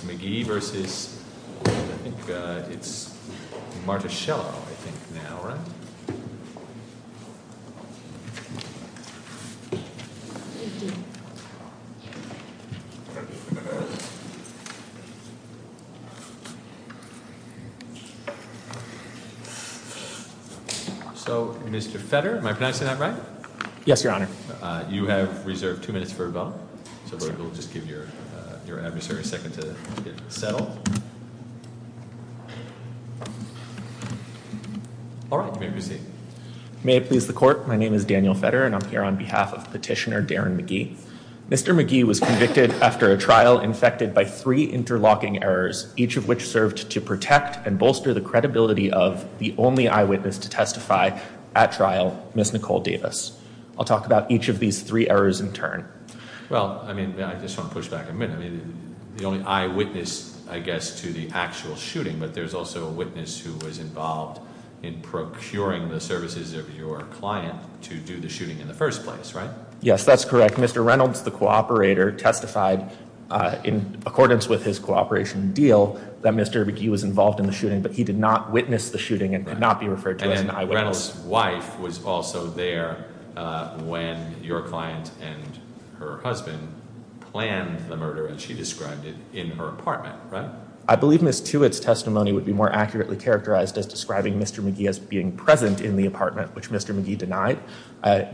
v. McGhee v. Martaschello. So Mr. Fetter, am I pronouncing that right? Yes, Your Honor. You have reserved two minutes for a vote. So if we'll just give your adversary a second to settle. All right, you may proceed. May it please the court, my name is Daniel Fetter, and I'm here on behalf of Petitioner Darren McGhee. Mr. McGhee was convicted after a trial infected by three interlocking errors, each of which served to protect and bolster the credibility of the only eyewitness to testify at trial, Miss Nicole Davis. I'll talk about each of these three errors in turn. Well, I mean, I just want to push back a minute. The only eyewitness, I guess, to the actual shooting, but there's also a witness who was involved in procuring the services of your client to do the shooting in the first place, right? Yes, that's correct. Mr. Reynolds, the cooperator, testified in accordance with his cooperation deal that Mr. McGhee was involved in the shooting, but he did not witness the shooting and could not be referred to as an eyewitness. Reynolds' wife was also there when your client and her husband planned the murder, as she described it, in her apartment, right? I believe Miss Tewitt's testimony would be more accurately characterized as describing Mr. McGhee as being present in the apartment, which Mr. McGhee denied.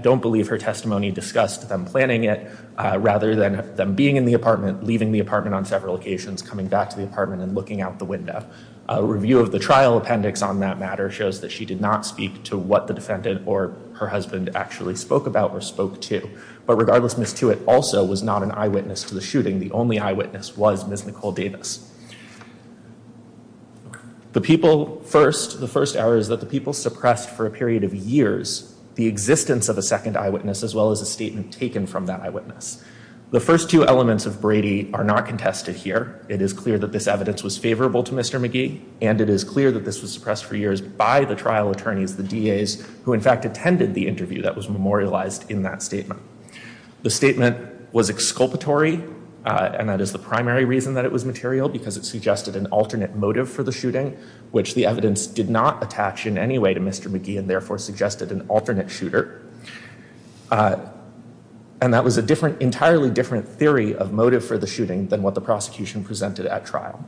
Don't believe her testimony discussed them planning it rather than them being in the apartment, leaving the apartment on several occasions, coming back to the apartment, and looking out the window. A review of the trial appendix on that matter shows that she did not speak to what the defendant or her husband actually spoke about or spoke to. But regardless, Miss Tewitt also was not an eyewitness to the shooting. The only eyewitness was Miss Nicole Davis. The people first, the first error is that the people suppressed for a period of years the existence of a second eyewitness, as well as a statement taken from that eyewitness. The first two elements of Brady are not contested here. It is clear that this evidence was favorable to Mr. McGhee, and it is clear that this was suppressed for years by the trial attorneys, the DAs, who in fact attended the interview that was memorialized in that statement. The statement was exculpatory, and that is the primary reason that it was material, because it suggested an alternate motive for the shooting, which the evidence did not attach in any way to Mr. McGhee, and therefore suggested an alternate shooter. And that was an entirely different theory of motive for the shooting than what the prosecution presented at trial.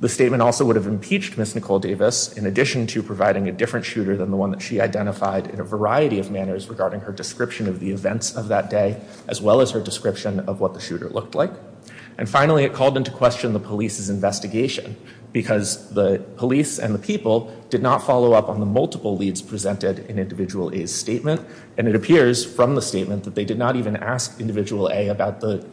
The statement also would have impeached Miss Nicole Davis, in addition to providing a different shooter than the one that she identified in a variety of manners regarding her description of the events of that day, as well as her description of what the shooter looked like. And finally, it called into question the police's investigation, because the police and the people did not follow up on the multiple leads presented in Individual A's statement. And it appears from the statement that they did not even ask Individual A about the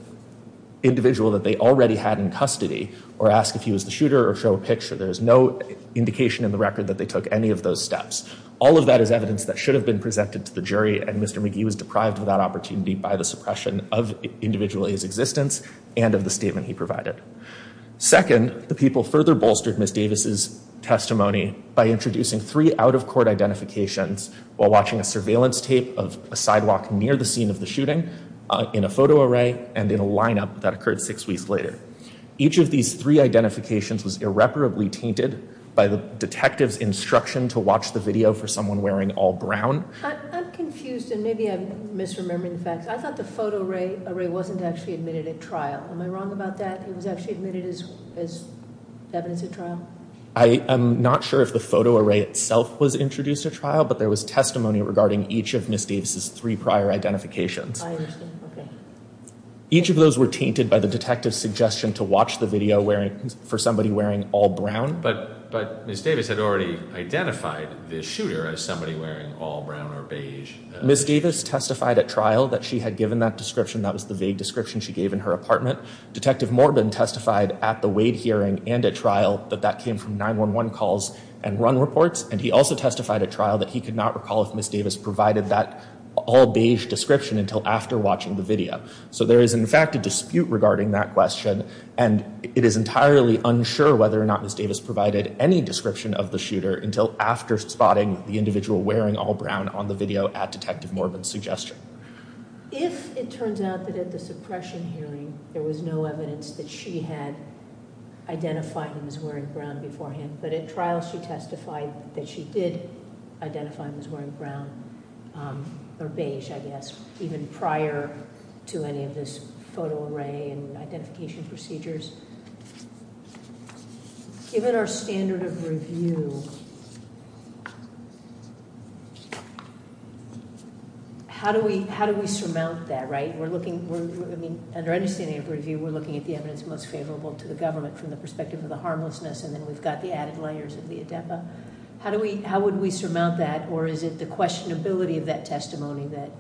individual that they already had in custody, or ask if he was the shooter, or show a picture. There is no indication in the record that they took any of those steps. All of that is evidence that should have been presented to the jury, and Mr. McGhee was deprived of that opportunity by the suppression of Individual A's existence and of the statement he provided. Second, the people further bolstered Miss Davis' testimony by introducing three out-of-court identifications while watching a surveillance tape of a sidewalk near the scene of the shooting in a photo array and in a lineup that occurred six weeks later. Each of these three identifications was irreparably tainted by the detective's instruction to watch the video for someone wearing all brown. I'm confused, and maybe I'm misremembering the facts. I thought the photo array wasn't actually admitted at trial. Am I wrong about that? It was actually admitted as evidence at trial? I am not sure if the photo array itself was introduced at trial, but there was testimony regarding each of Miss Davis' three prior identifications. I understand, okay. Each of those were tainted by the detective's suggestion to watch the video for somebody wearing all brown. But Miss Davis had already identified the shooter as somebody wearing all brown or beige. Miss Davis testified at trial that she had given that description. That was the vague description she gave in her apartment. Detective Morbin testified at the Wade hearing and at trial that that came from 911 calls and run reports, and he also testified at trial that he could not recall if Miss Davis provided that all beige description until after watching the video. So there is, in fact, a dispute regarding that question, and it is entirely unsure whether or not Miss Davis provided any description of the shooter until after spotting the individual wearing all brown on the video at Detective Morbin's suggestion. If it turns out that at the suppression hearing there was no evidence that she had identified him as wearing brown beforehand, but at trial she testified that she did identify him as wearing brown, or beige, I guess, even prior to any of this photo array and identification procedures. Given our standard of review, how do we surmount that, right? We're looking, I mean, under understanding of review, we're looking at the evidence most favorable to the government from the perspective of the harmlessness, and then we've got the added layers of the ADEPA. How would we surmount that, or is it the questionability of that testimony that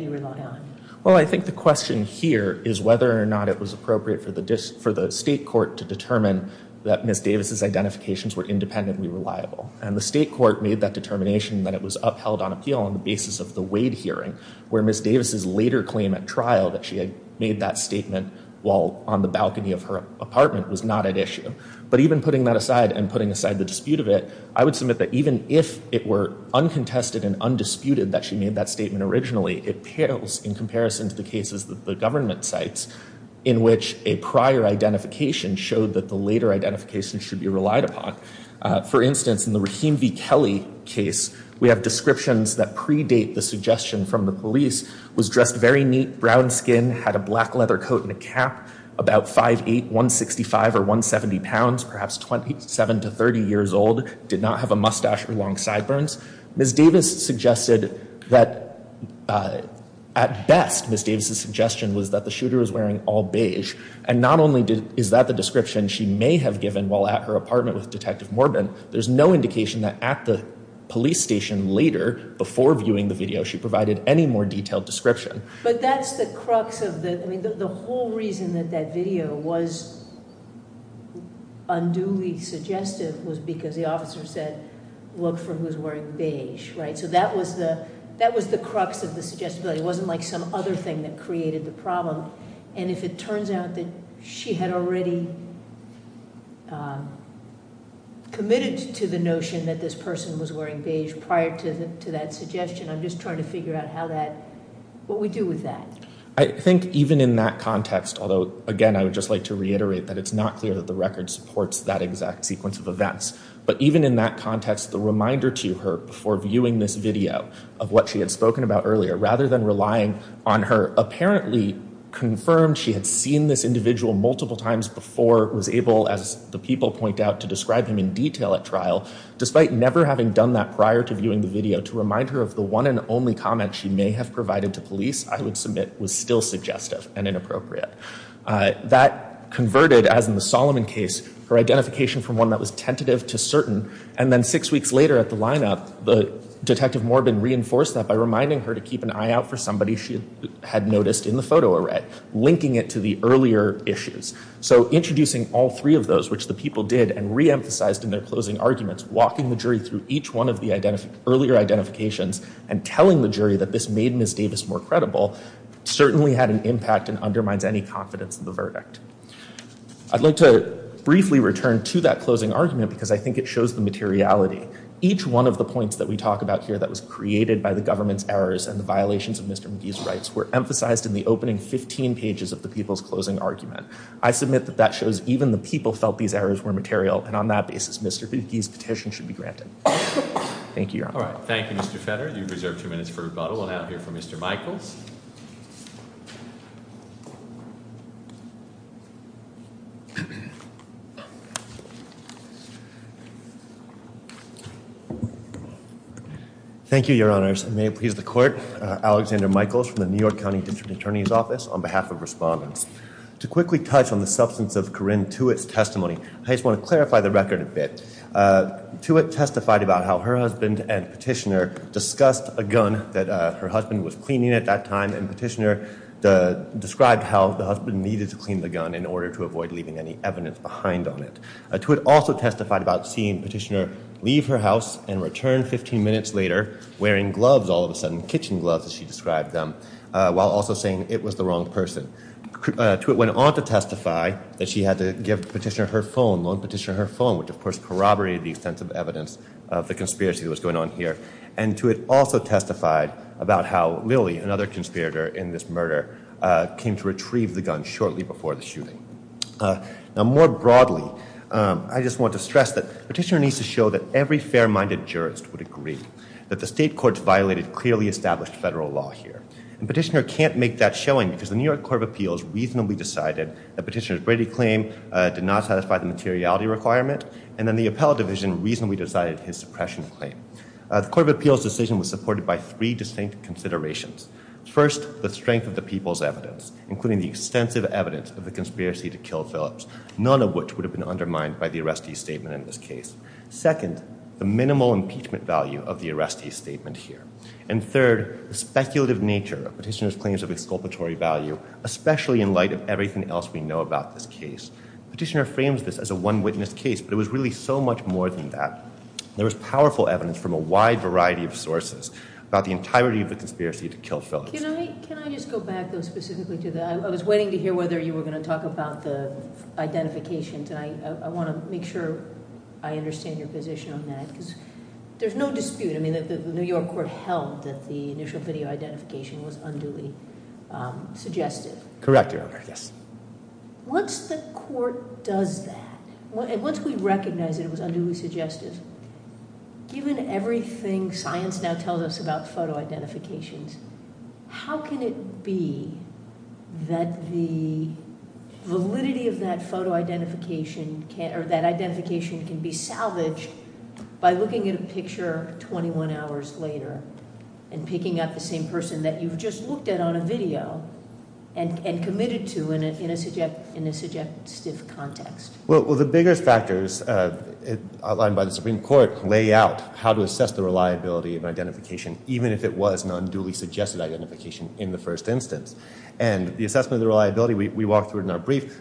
you rely on? Well, I think the question here is whether or not it was appropriate for the state court to determine that Miss Davis' identifications were independently reliable. And the state court made that determination that it was upheld on appeal on the basis of the Wade hearing, where Miss Davis' later claim at trial that she had made that statement while on the balcony of her apartment was not at issue. But even putting that aside, and putting aside the dispute of it, I would submit that even if it were uncontested and undisputed that she made that statement originally, it pales in comparison to the cases that the government cites, in which a prior identification showed that the later identification should be relied upon. For instance, in the Rahim V. Kelly case, we have descriptions that predate the suggestion from the police, was dressed very neat, brown skin, had a black leather coat and a cap, about 5'8", 165 or 170 pounds, perhaps 27 to 30 years old, did not have a mustache or long sideburns. Miss Davis suggested that, at best, Miss Davis' suggestion was that the shooter was wearing all beige. And not only is that the description she may have given while at her apartment with Detective Morbin, there's no indication that at the police station later, before viewing the video, she provided any more detailed description. But that's the crux of the, I mean, the whole reason that that video was unduly suggestive was because the officer said, look for who's wearing beige, right? So that was the, that was the crux of the suggestibility. It wasn't like some other thing that created the problem. And if it turns out that she had already committed to the notion that this person was wearing beige prior to that suggestion, I'm just trying to figure out how that, what we do with that. I think even in that context, although, again, I would just like to reiterate that it's not clear that the record supports that exact sequence of events. But even in that context, the reminder to her before viewing this video of what she had spoken about earlier, rather than relying on her apparently confirmed she had seen this individual multiple times before, was able, as the people point out, to describe him in detail at trial, despite never having done that prior to viewing the video, to remind her of the one and only comment she may have provided to police, I would submit, was still suggestive and inappropriate. That converted, as in the Solomon case, her identification from one that was tentative to certain, and then six weeks later at the lineup, the Detective Morbin reinforced that by reminding her to keep an eye out for somebody she had noticed in the photo array, linking it to the earlier issues. So introducing all three of those, which the people did, and reemphasized in their closing arguments, walking the jury through each one of the earlier identifications, and telling the jury that this made Ms. Davis more credible, certainly had an impact and undermines any confidence in the verdict. I'd like to briefly return to that closing argument, because I think it shows the materiality. Each one of the points that we talk about here that was created by the government's errors and the violations of Mr. McGee's rights were emphasized in the opening 15 pages of the people's closing argument. I submit that that shows even the people felt these errors were material, and on that basis, Mr. McGee's petition should be granted. Thank you, Your Honor. All right, thank you, Mr. Fetter. You've reserved two minutes for rebuttal. We'll now hear from Mr. Michaels. Thank you, Your Honors. And may it please the Court, Alexander Michaels from the New York County District Attorney's Office on behalf of respondents. To quickly touch on the substance of Corrine Tewitt's testimony, I just want to clarify the record a bit. Tewitt testified about how her husband and petitioner discussed a gun that her husband was cleaning at that time, and petitioner described how the husband needed to clean the gun in order to avoid leaving any evidence behind on it. Tewitt also testified about seeing petitioner leave her house and return 15 minutes later wearing gloves, all of a sudden, kitchen gloves as she described them, while also saying it was the wrong person. Tewitt went on to testify that she had to give petitioner her phone, loan petitioner her phone, which of course corroborated the extensive evidence of the conspiracy that was going on here. And Tewitt also testified about how Lily, another conspirator in this murder, came to retrieve the gun shortly before the shooting. Now more broadly, I just want to stress that petitioner needs to show that every fair-minded jurist would agree that the state courts violated clearly established federal law here. And petitioner can't make that showing because the New York Court of Appeals reasonably decided that petitioner's Brady claim did not satisfy the materiality requirement, and then the appellate division reasonably decided his suppression claim. The Court of Appeals decision was supported by three distinct considerations. First, the strength of the people's evidence, including the extensive evidence of the conspiracy to kill Phillips, none of which would have been undermined by the arrestee's statement in this case. Second, the minimal impeachment value of the arrestee's statement here. And third, the speculative nature of petitioner's claims of exculpatory value, especially in light of everything else we know about this case. Petitioner frames this as a one-witness case, but it was really so much more than that. There was powerful evidence from a wide variety of sources about the entirety of the conspiracy to kill Phillips. Can I just go back though specifically to that? I was waiting to hear whether you were gonna talk about the identification tonight. I wanna make sure I understand your position on that because there's no dispute. I mean, the New York Court held that the initial video identification was unduly suggestive. Correct, Your Honor, yes. Once the court does that, and once we recognize that it was unduly suggestive, given everything science now tells us about photo identifications, how can it be that the validity of that photo identification can, or that identification can be salvaged by looking at a picture 21 hours later and picking up the same person that you've just looked at on a video and committed to in a suggestive context? Well, the biggest factors outlined by the Supreme Court lay out how to assess the reliability of identification, even if it was an unduly suggested identification in the first instance. And the assessment of the reliability, we walked through it in our brief.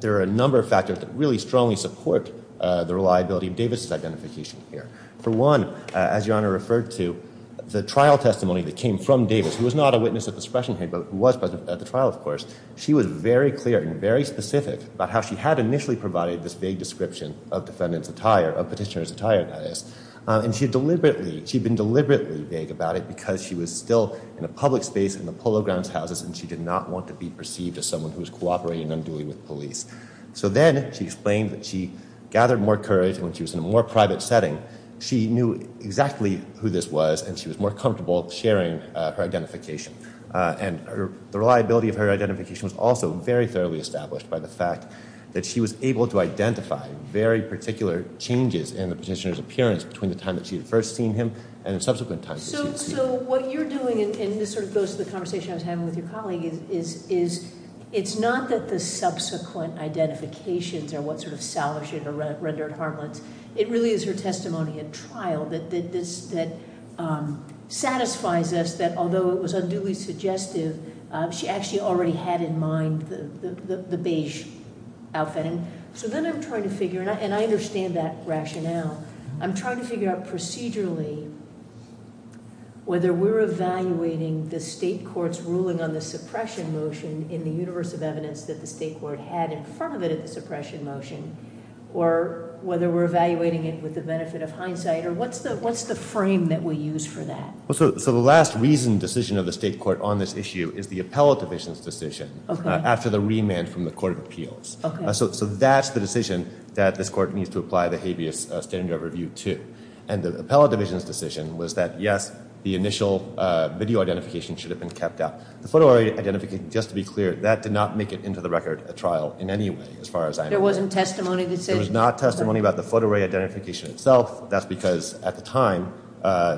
There are a number of factors that really strongly support the reliability of Davis's identification here. For one, as Your Honor referred to, the trial testimony that came from Davis, who was not a witness at the suppression hearing, but who was present at the trial, of course, she was very clear and very specific about how she had initially provided this vague description of defendant's attire, of petitioner's attire, that is. And she had deliberately, she'd been deliberately vague about it because she was still in a public space in the Polo Grounds houses, and she did not want to be perceived as someone who was cooperating unduly with police. So then she explained that she gathered more courage when she was in a more private setting. She knew exactly who this was, and she was more comfortable sharing her identification. And the reliability of her identification was also very thoroughly established by the fact that she was able to identify very particular changes in the petitioner's appearance between the time that she had first seen him and the subsequent times that she had seen him. So what you're doing, and this sort of goes to the conversation I was having with your colleague, is it's not that the subsequent identifications are what sort of salvaged or rendered harmless, it really is her testimony at trial that satisfies us that although it was unduly suggestive, she actually already had in mind the beige outfit. So then I'm trying to figure, and I understand that rationale, I'm trying to figure out procedurally whether we're evaluating the state court's ruling on the suppression motion in the universe of evidence that the state court had in front of it at the suppression motion, or whether we're evaluating it with the benefit of hindsight, or what's the frame that we use for that? So the last reasoned decision of the state court on this issue is the appellate division's decision after the remand from the Court of Appeals. So that's the decision that this court needs to apply the habeas standard of review to. And the appellate division's decision was that, yes, the initial video identification should have been kept out. The photo-array identification, just to be clear, that did not make it into the record at trial in any way, as far as I know. There wasn't testimony decision? There was not testimony about the photo-array identification itself. That's because at the time,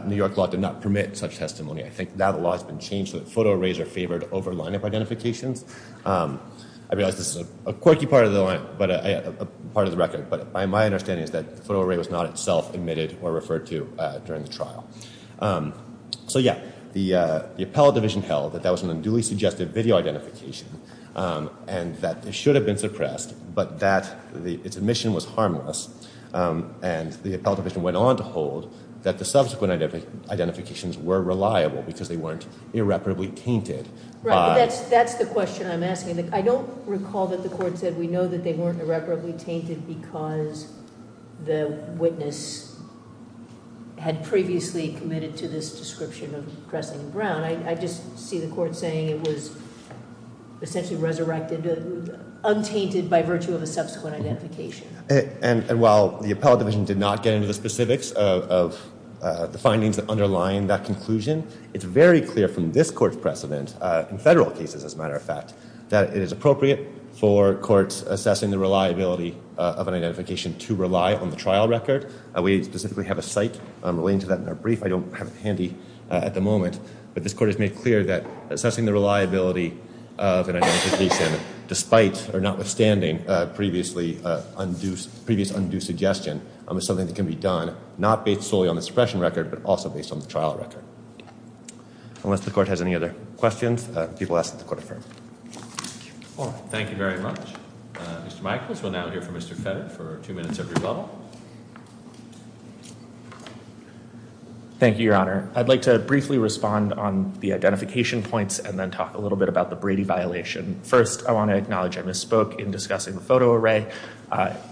New York law did not permit such testimony. I think now the law has been changed so that photo-arrays are favored over lineup identifications. I realize this is a quirky part of the record, but my understanding is that the photo-array was not itself admitted or referred to during the trial. So yeah, the appellate division held that that was an unduly suggestive video identification, and that it should have been suppressed, but that its admission was harmless. And the appellate division went on to hold that the subsequent identifications were reliable because they weren't irreparably tainted. Right, but that's the question I'm asking. I don't recall that the court said we know that they weren't irreparably tainted because the witness had previously committed to this description of Kressling and Brown. I just see the court saying it was essentially resurrected, untainted by virtue of a subsequent identification. And while the appellate division did not get into the specifics of the findings that underline that conclusion, it's very clear from this court's precedent, in federal cases as a matter of fact, that it is appropriate for courts assessing the reliability of an identification to rely on the trial record. We specifically have a site relating to that in our brief. I don't have it handy at the moment, but this court has made clear that assessing the reliability of an identification despite or notwithstanding previous undue suggestion is something that can be done not based solely on the suppression record, but also based on the trial record. Unless the court has any other questions, people ask that the court affirm. All right, thank you very much. Mr. Michaels, we'll now hear from Mr. Fetter for two minutes of rebuttal. Thank you, Your Honor. I'd like to briefly respond on the identification points and then talk a little bit about the Brady violation. First, I want to acknowledge I misspoke in discussing the photo array.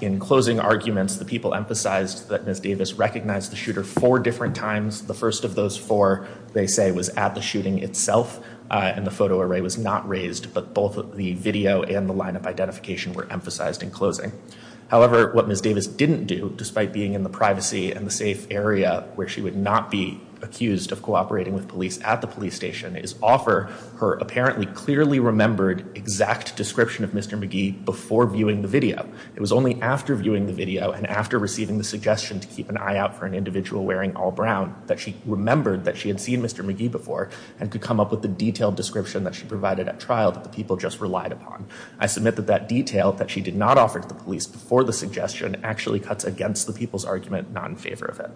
In closing arguments, the people emphasized that Ms. Davis recognized the shooter four different times. The first of those four, they say, was at the shooting itself, and the photo array was not raised, but both the video and the lineup identification were emphasized in closing. However, what Ms. Davis didn't do, despite being in the privacy and the safe area where she would not be accused of cooperating with police at the police station, is offer her apparently clearly remembered exact description of Mr. McGee before viewing the video. It was only after viewing the video and after receiving the suggestion to keep an eye out for an individual wearing all brown that she remembered that she had seen Mr. McGee before and could come up with the detailed description that she provided at trial that the people just relied upon. I submit that that detail that she did not offer to the police before the suggestion actually cuts against the people's argument, not in favor of it.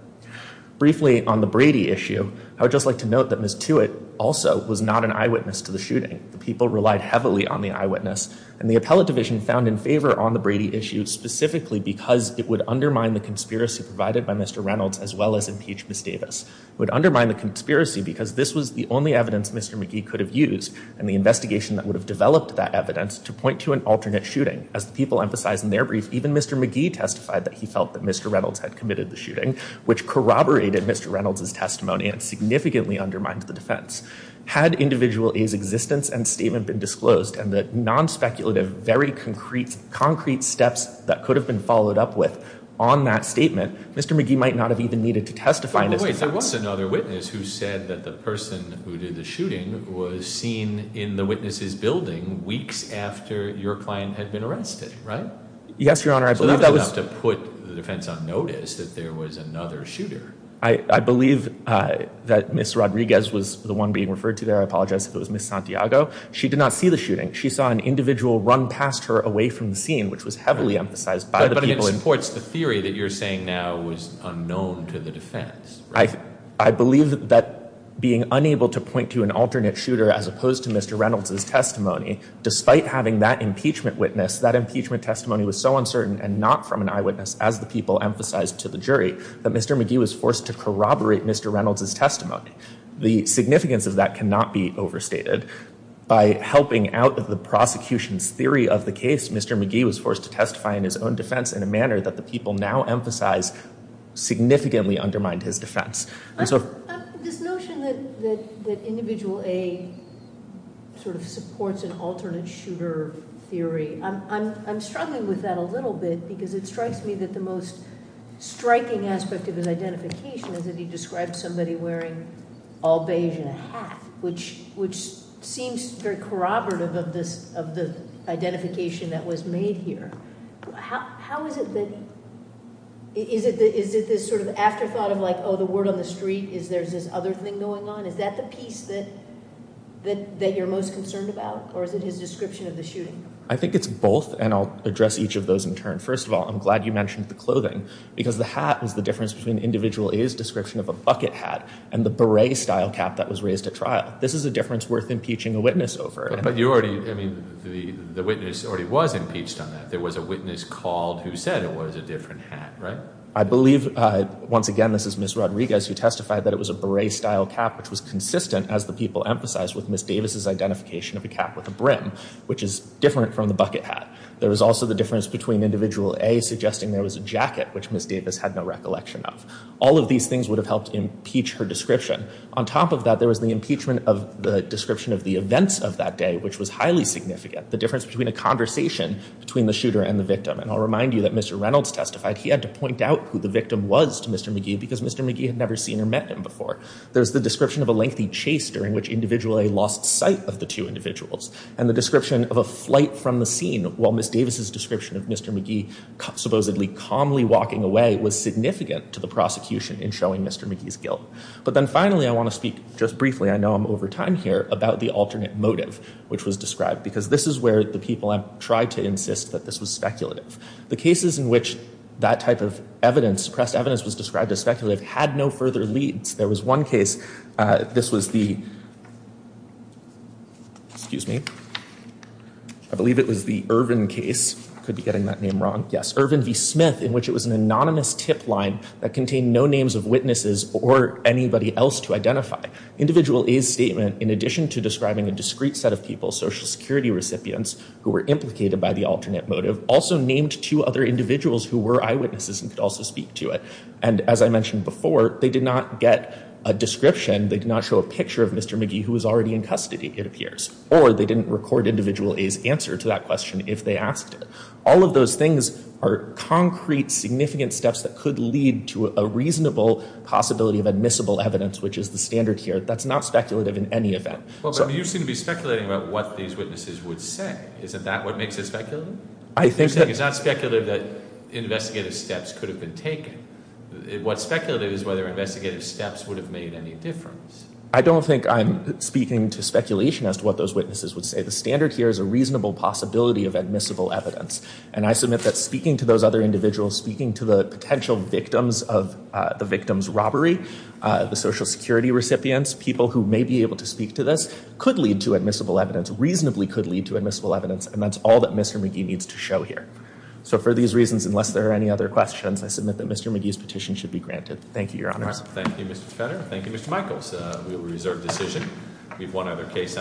Briefly on the Brady issue, I would just like to note that Ms. Tewitt also was not an eyewitness to the shooting. The people relied heavily on the eyewitness and the appellate division found in favor on the Brady issue specifically because it would undermine the conspiracy provided by Mr. Reynolds as well as impeach Ms. Davis. It would undermine the conspiracy because this was the only evidence Mr. McGee could have used and the investigation that would have developed that evidence to point to an alternate shooting. As the people emphasized in their brief, even Mr. McGee testified that he felt that Mr. Reynolds had committed the shooting, which corroborated Mr. Reynolds' testimony and significantly undermined the defense. Had individual A's existence and statement been disclosed and the non-speculative, very concrete steps that could have been followed up with on that statement, Mr. McGee might not have even needed to testify in his defense. But wait, there was another witness who said that the person who did the shooting was seen in the witness's building weeks after your client had been arrested, right? Yes, Your Honor, I believe that was- So that was enough to put the defense on notice that there was another shooter. I believe that Ms. Rodriguez was the one being referred to there. I apologize if it was Ms. Santiago. She did not see the shooting. She saw an individual run past her away from the scene, which was heavily emphasized by the people in- But I mean, it supports the theory that you're saying now was unknown to the defense, right? I believe that being unable to point to an alternate shooter as opposed to Mr. Reynolds' testimony, despite having that impeachment witness, that impeachment testimony was so uncertain and not from an eyewitness, as the people emphasized to the jury, that Mr. McGee was forced to corroborate Mr. Reynolds' testimony. The significance of that cannot be overstated. By helping out of the prosecution's theory of the case, Mr. McGee was forced to testify in his own defense in a manner that the people now emphasize significantly undermined his defense. This notion that Individual A sort of supports an alternate shooter theory, I'm struggling with that a little bit because it strikes me that the most striking aspect of his identification is that he described somebody wearing all beige and a hat, which seems very corroborative of the identification that was made here. How is it that, is it this sort of afterthought of like, oh, the word on the street, is there this other thing going on? Is that the piece that you're most concerned about, or is it his description of the shooting? I think it's both, and I'll address each of those in turn. First of all, I'm glad you mentioned the clothing, because the hat was the difference between Individual A's description of a bucket hat and the beret-style cap that was raised at trial. This is a difference worth impeaching a witness over. But you already, I mean, the witness already was impeached on that. There was a witness called who said it was a different hat, right? I believe, once again, this is Ms. Rodriguez, who testified that it was a beret-style cap, which was consistent, as the people emphasized, with Ms. Davis' identification of a cap with a brim, which is different from the bucket hat. There was also the difference between Individual A suggesting there was a jacket, which Ms. Davis had no recollection of. All of these things would have helped impeach her description. On top of that, there was the impeachment of the description of the events of that day, which was highly significant, the difference between a conversation between the shooter and the victim. And I'll remind you that Mr. Reynolds testified he had to point out who the victim was to Mr. McGee because Mr. McGee had never seen or met him before. There's the description of a lengthy chase during which Individual A lost sight of the two individuals, and the description of a flight from the scene while Ms. Davis' description of Mr. McGee supposedly calmly walking away was significant to the prosecution in showing Mr. McGee's guilt. But then finally, I want to speak just briefly, I know I'm over time here, about the alternate motive which was described, because this is where the people have tried to insist that this was speculative. The cases in which that type of evidence, pressed evidence, was described as speculative had no further leads. There was one case, this was the, excuse me, I believe it was the Irvin case, could be getting that name wrong. Yes, Irvin v. Smith, in which it was an anonymous tip line that contained no names of witnesses or anybody else to identify. Individual A's statement, in addition to describing a discrete set of people, Social Security recipients, who were implicated by the alternate motive, also named two other individuals who were eyewitnesses and could also speak to it. And as I mentioned before, they did not get a description, they did not show a picture of Mr. McGee who was already in custody, it appears. Or they didn't record individual A's answer to that question if they asked it. All of those things are concrete, significant steps that could lead to a reasonable possibility of admissible evidence, which is the standard here. That's not speculative in any event. So- Well, but you seem to be speculating about what these witnesses would say. Isn't that what makes it speculative? I think that- You're saying it's not speculative that investigative steps could have been taken. What's speculative is whether investigative steps would have made any difference. I don't think I'm speaking to speculation as to what those witnesses would say. The standard here is a reasonable possibility of admissible evidence. And I submit that speaking to those other individuals, speaking to the potential victims of the victim's robbery, the social security recipients, people who may be able to speak to this, could lead to admissible evidence, reasonably could lead to admissible evidence. And that's all that Mr. McGee needs to show here. So for these reasons, unless there are any other questions, I submit that Mr. McGee's petition should be granted. Thank you, your honors. Thank you, Mr. Spenner. Thank you, Mr. Michaels. We will reserve decision. We have one other case.